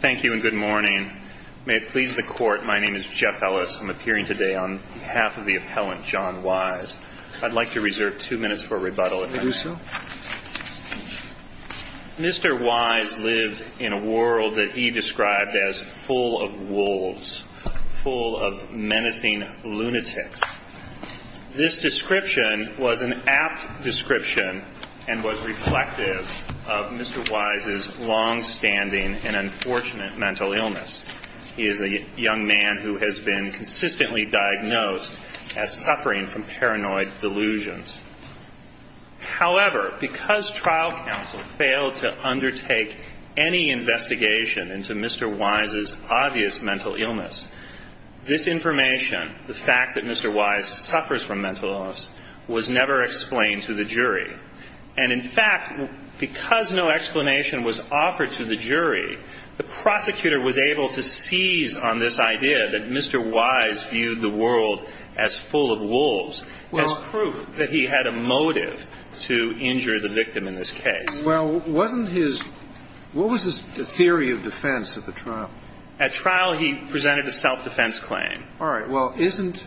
Thank you and good morning. May it please the Court, my name is Jeff Ellis. I'm appearing today on behalf of the appellant, John Wise. I'd like to reserve two minutes for rebuttal if I may. Mr. Wise lived in a world that he described as full of wolves, full of menacing lunatics. This description was an apt description and was reflective of Mr. Wise's longstanding and unfortunate mental illness. He is a young man who has been consistently diagnosed as suffering from paranoid delusions. However, because trial counsel failed to undertake any investigation into Mr. Wise's obvious mental illness, this information, the fact that Mr. Wise suffers from mental illness, was never explained to the jury. And in fact, because no explanation was offered to the jury, the prosecutor was able to seize on this idea that Mr. Wise viewed the world as full of wolves as proof that he had a motive to injure the victim in this case. Mr. Wise is a young man who has been consistently diagnosed as suffering from paranoid delusions. However, because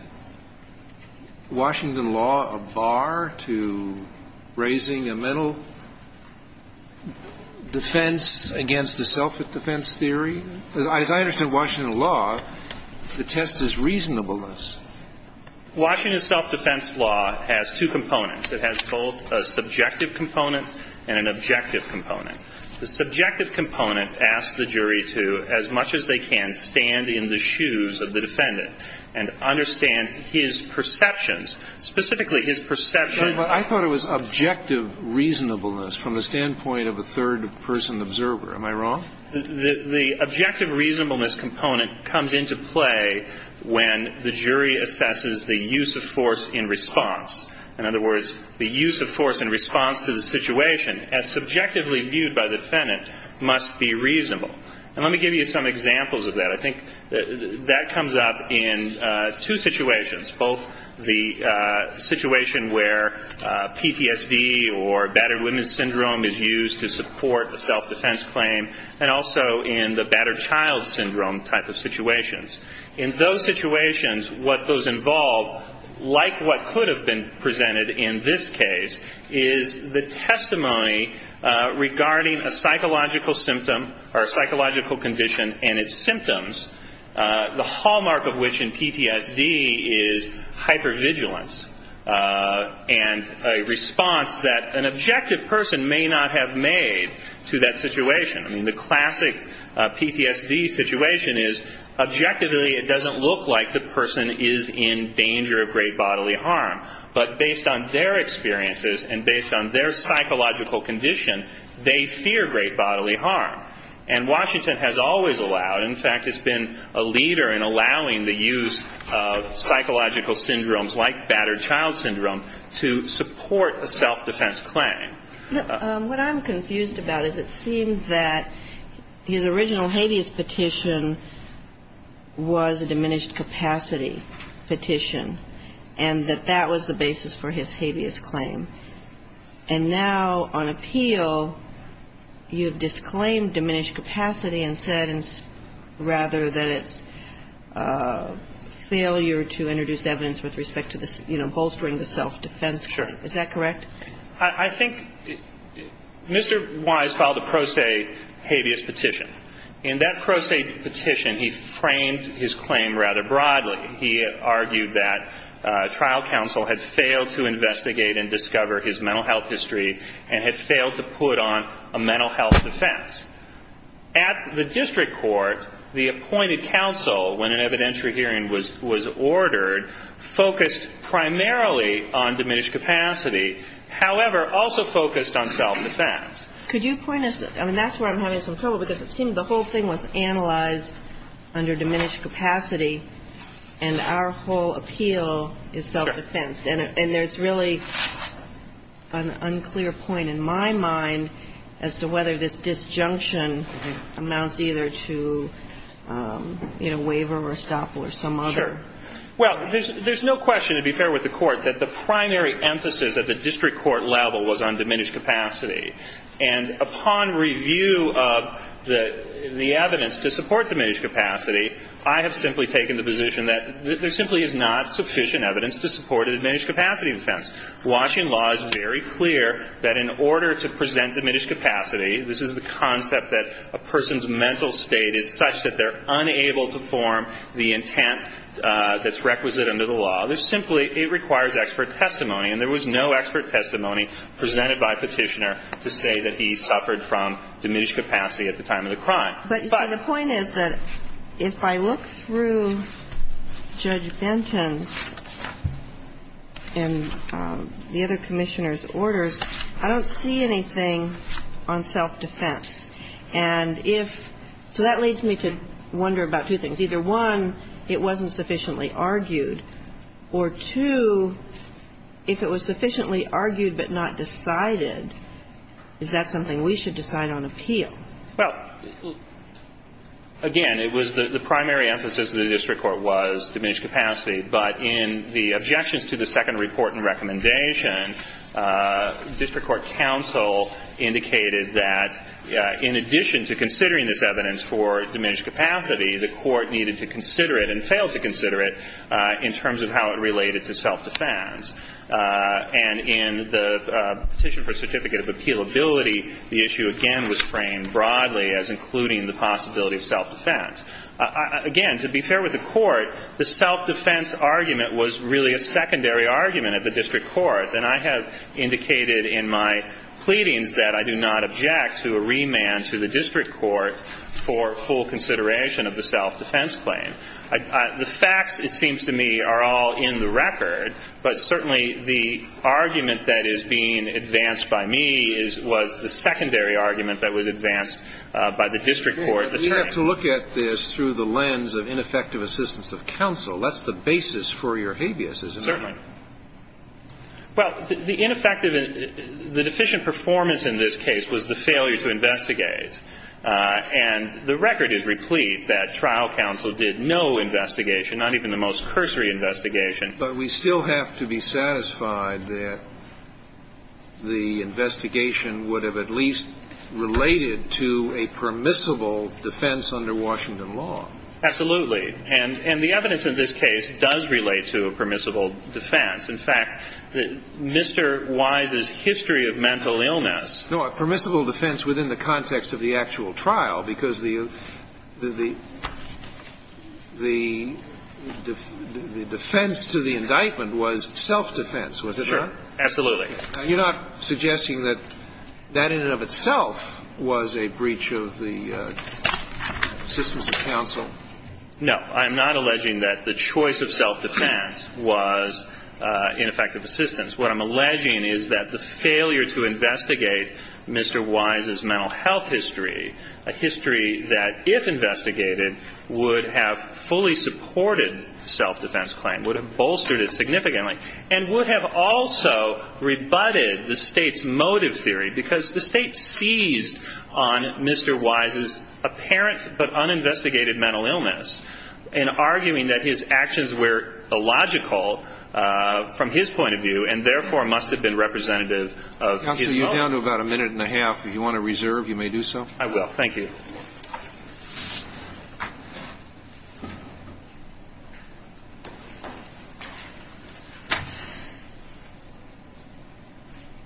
no explanation was offered to the jury, the prosecutor was able to seize on this idea that Mr. Wise viewed the world as full of wolves as proof that he had a motive to injure the victim in this case. And in fact, because no explanation was offered to the jury, the prosecutor was able to seize on this idea that Mr. Wise viewed the world as full of wolves as proof that he had a motive to injure the victim in this case. And let me give you some examples of that. I think that comes up in two situations, both the situation where PTSD or battered women's syndrome is used to support a self-defense claim and also in the battered child syndrome type of situations. In those situations, what those involve, like what could have been presented in this case, is the testimony regarding a psychological symptom or psychological condition and its symptoms, the hallmark of which in PTSD is hypervigilance and a response that an objective person may not have made to that situation. I mean, the classic PTSD situation is objectively it doesn't look like the person is in danger of great bodily harm, but based on their experiences and based on their psychological condition, they fear great bodily harm. And Washington has always allowed, in fact, has been a leader in allowing the use of psychological syndromes like battered child syndrome to support a self-defense claim. What I'm confused about is it seemed that his original habeas petition was a diminished capacity petition and that that was the basis for his habeas claim. And now on appeal, you've disclaimed diminished capacity and said rather that it's a failure to introduce evidence with respect to, you know, bolstering the self-defense claim. Is that correct? I think Mr. Wise filed a pro se habeas petition. In that pro se petition, he framed his claim rather broadly. He argued that trial counsel had failed to investigate and discover his mental health history and had failed to put on a mental health defense. At the district court, the appointed counsel, when an evidentiary hearing was ordered, focused primarily on diminished capacity, however, also focused on self-defense. Could you point us? I mean, that's where I'm having some trouble because it seemed the whole thing was analyzed under diminished capacity and our whole appeal is self-defense. And there's really an unclear point in my mind as to whether this disjunction amounts either to, you know, waiver or stop or some other. Sure. Well, there's no question, to be fair with the Court, that the primary emphasis at the district court level was on diminished capacity. And upon review of the evidence to support diminished capacity, I have simply taken the position that there simply is not sufficient evidence to support the diminished capacity defense. Washington law is very clear that in order to present diminished capacity, this is the concept that a person's mental state is such that they're unable to form the intent that's requisite under the law. There's simply – it requires expert testimony. And there was no expert testimony presented by Petitioner to say that he suffered from diminished capacity at the time of the crime. But the point is that if I look through Judge Benton's and the other Commissioner's orders, I don't see anything on self-defense. And if – so that leads me to wonder about two things. Either, one, it wasn't sufficiently argued, or, two, if it was sufficiently argued but not decided, is that something we should decide on appeal? Well, again, it was the primary emphasis of the district court was diminished capacity. But in the objections to the second report and recommendation, district court counsel indicated that in addition to considering this evidence for diminished capacity, the court needed to consider it and failed to consider it in terms of how it related to self-defense. And in the petition for certificate of appealability, the issue, again, was framed broadly as including the possibility of self-defense. Again, to be fair with the Court, the self-defense argument was really a secondary argument at the district court. And I have indicated in my pleadings that I do not object to a remand to the district court for full consideration of the self-defense claim. The facts, it seems to me, are all in the record. But certainly the argument that is being advanced by me is – was the secondary argument that was advanced by the district court attorney. We have to look at this through the lens of ineffective assistance of counsel. That's the basis for your habeas, isn't it? Certainly. Well, the ineffective – the deficient performance in this case was the failure to investigate. And the record is replete that trial counsel did no investigation, not even the most cursory investigation. But we still have to be satisfied that the investigation would have at least related to a permissible defense under Washington law. Absolutely. And the evidence in this case does relate to a permissible defense. In fact, Mr. Wise's history of mental illness – No, a permissible defense within the context of the actual trial, because the – the defense to the indictment was self-defense, was it not? Sure. Absolutely. You're not suggesting that that in and of itself was a breach of the systems of counsel? No. I'm not alleging that the choice of self-defense was ineffective assistance. What I'm alleging is that the failure to investigate Mr. Wise's mental health history, a history that, if investigated, would have fully supported self-defense claim, would have bolstered it significantly, and would have also rebutted the State's motive theory, because the State seized on Mr. Wise's apparent but uninvestigated mental illness in arguing that his actions were illogical from his point of view, and therefore must have been representative of his motive. Counsel, you're down to about a minute and a half. If you want to reserve, you may do so. I will. Thank you.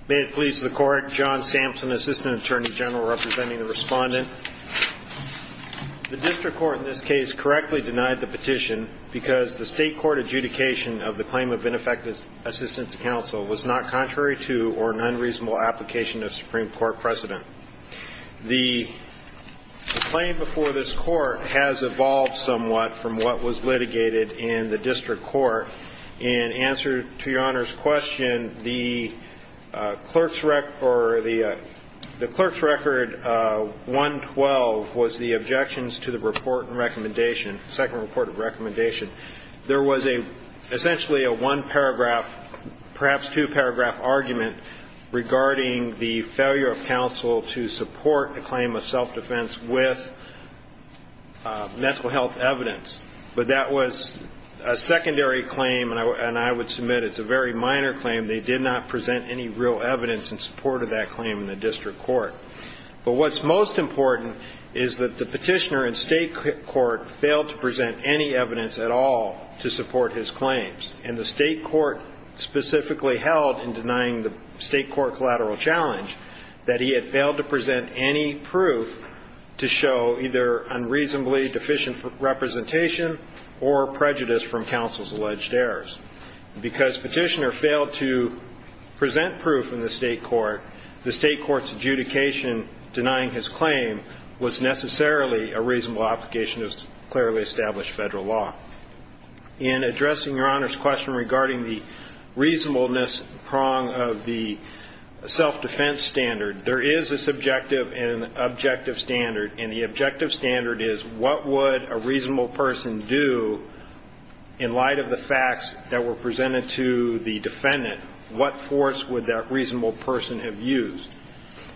May it please the Court, John Sampson, Assistant Attorney General, representing the Respondent. The district court in this case correctly denied the petition because the State court adjudication of the claim of ineffective assistance of counsel was not contrary to or an unreasonable application of Supreme Court precedent. The claim before this court has evolved somewhat from what was litigated in the district court. In answer to Your Honor's question, the clerk's record 112 was the objections to the second report of recommendation. There was essentially a one-paragraph, perhaps two-paragraph argument regarding the failure of counsel to support a claim of self-defense with mental health evidence, but that was a secondary claim, and I would submit it's a very minor claim. They did not present any real evidence in support of that claim in the district court. But what's most important is that the petitioner in State court failed to present any evidence at all to support his claims, and the State court specifically held in denying the State court collateral challenge that he had failed to present any proof to show either unreasonably deficient representation or prejudice from counsel's alleged errors. Because petitioner failed to present proof in the State court, the State court's adjudication denying his claim was necessarily a reasonable obligation of clearly established Federal law. In addressing Your Honor's question regarding the reasonableness prong of the self-defense standard, there is a subjective and objective standard, and the objective standard is what would a reasonable person do in light of the facts that were presented to the defendant? What force would that reasonable person have used?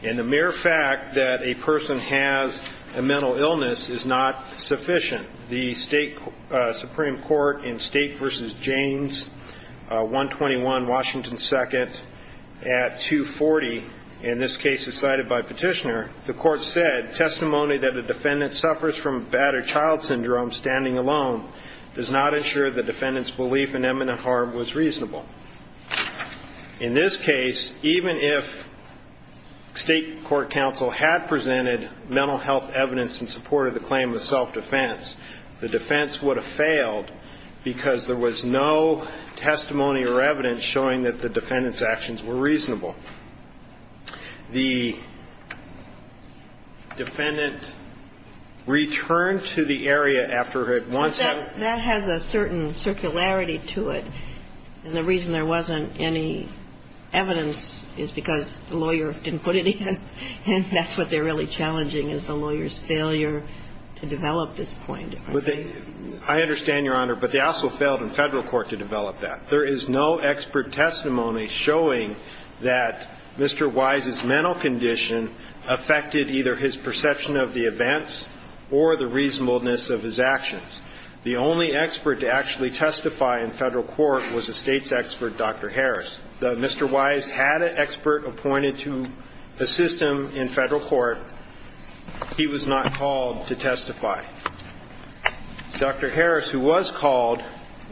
And the mere fact that a person has a mental illness is not sufficient. The Supreme Court in State v. James, 121 Washington 2nd, at 240, and this case is cited by petitioner, the court said, testimony that a defendant suffers from a battered child syndrome standing alone does not ensure the defendant's belief in imminent harm was reasonable. In this case, even if State court counsel had presented mental health evidence in support of the claim of self-defense, the defense would have failed because there was no testimony or evidence showing that the defendant's actions were reasonable. The defendant returned to the area after it once had been. And the reason there wasn't any evidence is because the lawyer didn't put it in. And that's what they're really challenging, is the lawyer's failure to develop this point. I understand, Your Honor, but they also failed in Federal court to develop that. There is no expert testimony showing that Mr. Wise's mental condition affected either his perception of the events or the reasonableness of his actions. The only expert to actually testify in Federal court was the State's expert, Dr. Harris. Though Mr. Wise had an expert appointed to assist him in Federal court, he was not called to testify. Dr. Harris, who was called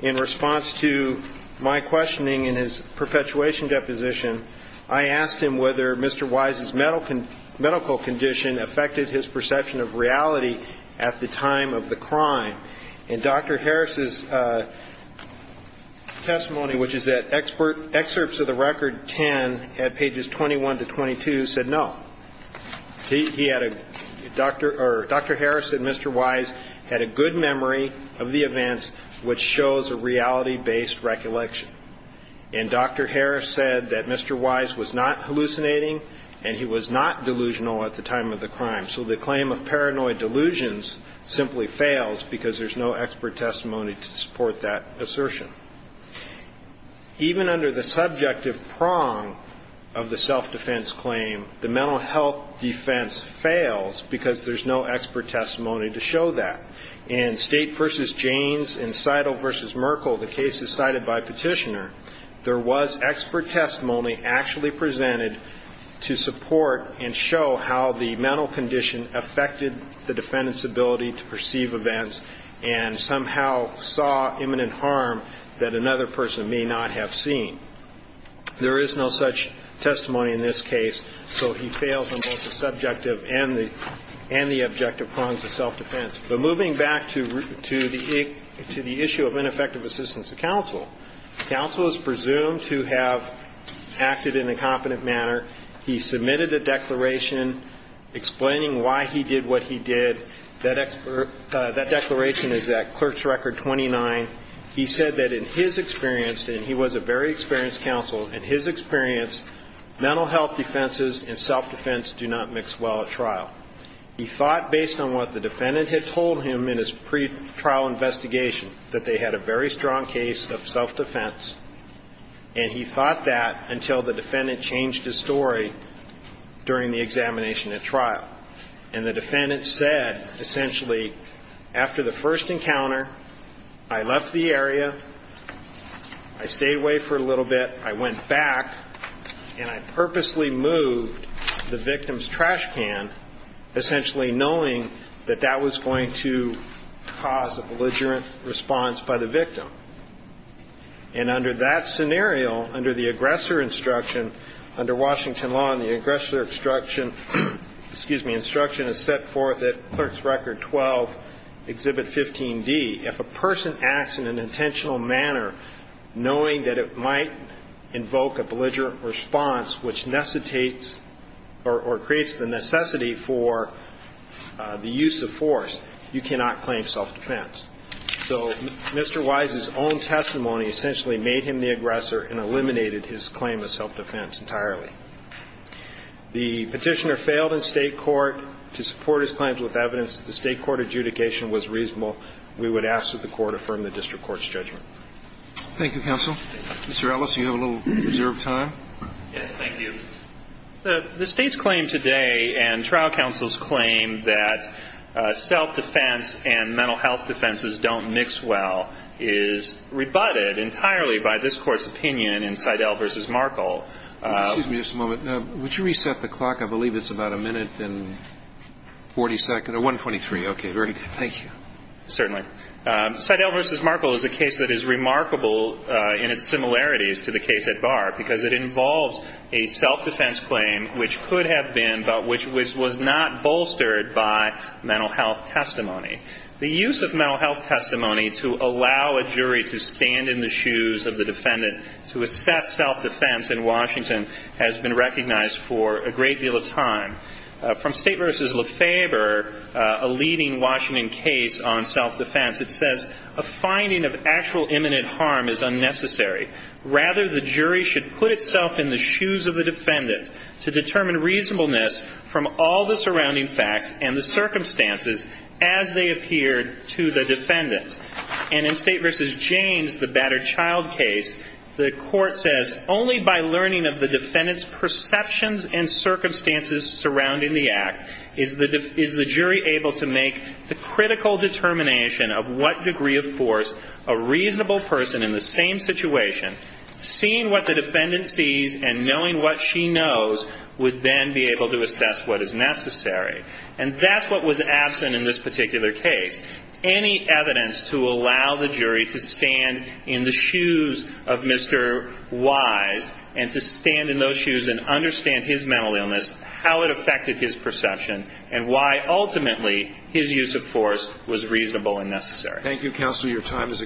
in response to my questioning in his perpetuation deposition, I asked him whether Mr. Wise's medical condition affected his perception of reality at the time of the crime. And Dr. Harris's testimony, which is at Excerpts of the Record 10 at pages 21 to 22, said no. Dr. Harris said Mr. Wise had a good memory of the events, which shows a reality-based recollection. And Dr. Harris said that Mr. Wise was not hallucinating and he was not delusional at the time of the crime. So the claim of paranoid delusions simply fails because there's no expert testimony to support that assertion. Even under the subjective prong of the self-defense claim, the mental health defense fails because there's no expert testimony to show that. In State v. Janes and Seidel v. Merkel, the cases cited by Petitioner, there was expert testimony actually presented to support and show how the mental condition affected the defendant's ability to perceive events and somehow saw imminent harm that another person may not have seen. There is no such testimony in this case, so he fails on both the subjective and the objective prongs of self-defense. But moving back to the issue of ineffective assistance to counsel, counsel is presumed to have acted in a competent manner. He submitted a declaration explaining why he did what he did. That declaration is at Clerk's Record 29. He said that in his experience, and he was a very experienced counsel, in his experience, mental health defenses and self-defense do not mix well at trial. He thought, based on what the defendant had told him in his pretrial investigation, that they had a very strong case of self-defense. And he thought that until the defendant changed his story during the examination at trial. And the defendant said, essentially, after the first encounter, I left the area, I stayed away for a little bit, I went back, and I purposely moved the victim's trash can essentially knowing that that was going to cause a belligerent response by the victim. And under that scenario, under the aggressor instruction, under Washington law, and the aggressor instruction, excuse me, instruction is set forth at Clerk's Record 12, Exhibit 15D, if a person acts in an intentional manner, knowing that it might invoke a belligerent response, which necessitates or creates the necessity for the victim's self-defense, or the use of force, you cannot claim self-defense. So Mr. Wise's own testimony essentially made him the aggressor and eliminated his claim of self-defense entirely. The petitioner failed in State court. To support his claims with evidence, the State court adjudication was reasonable. We would ask that the court affirm the district court's judgment. Thank you, counsel. Mr. Ellis, you have a little reserved time. Yes, thank you. The State's claim today and trial counsel's claim that self-defense and mental health defenses don't mix well is rebutted entirely by this court's opinion in Seidel v. Markle. Excuse me just a moment. Would you reset the clock? I believe it's about a minute and 40 seconds, or 1.23. Thank you. Certainly. Seidel v. Markle is a case that is remarkable in its similarities to the case at Barr because it involves a self-defense claim, which could have been, but which was not bolstered by mental health testimony. The use of mental health testimony to allow a jury to stand in the shoes of the defendant to assess self-defense in Washington has been recognized for a great deal of time. From State v. Lefebvre, a leading Washington case on self-defense, it says, A finding of actual imminent harm is unnecessary. Rather, the jury should put itself in the shoes of the defendant to determine reasonableness from all the surrounding facts and the circumstances as they appeared to the defendant. And in State v. Janes, the battered child case, the court says, Only by learning of the defendant's perceptions and circumstances surrounding the act is the jury able to make the critical determination of what degree of force a reasonable person in the same situation could take to the trial. Seeing what the defendant sees and knowing what she knows would then be able to assess what is necessary. And that's what was absent in this particular case. Any evidence to allow the jury to stand in the shoes of Mr. Wise and to stand in those shoes and understand his mental illness, how it affected his perception, and why, ultimately, his use of force was reasonable and necessary. Thank you, counsel. Your time has expired.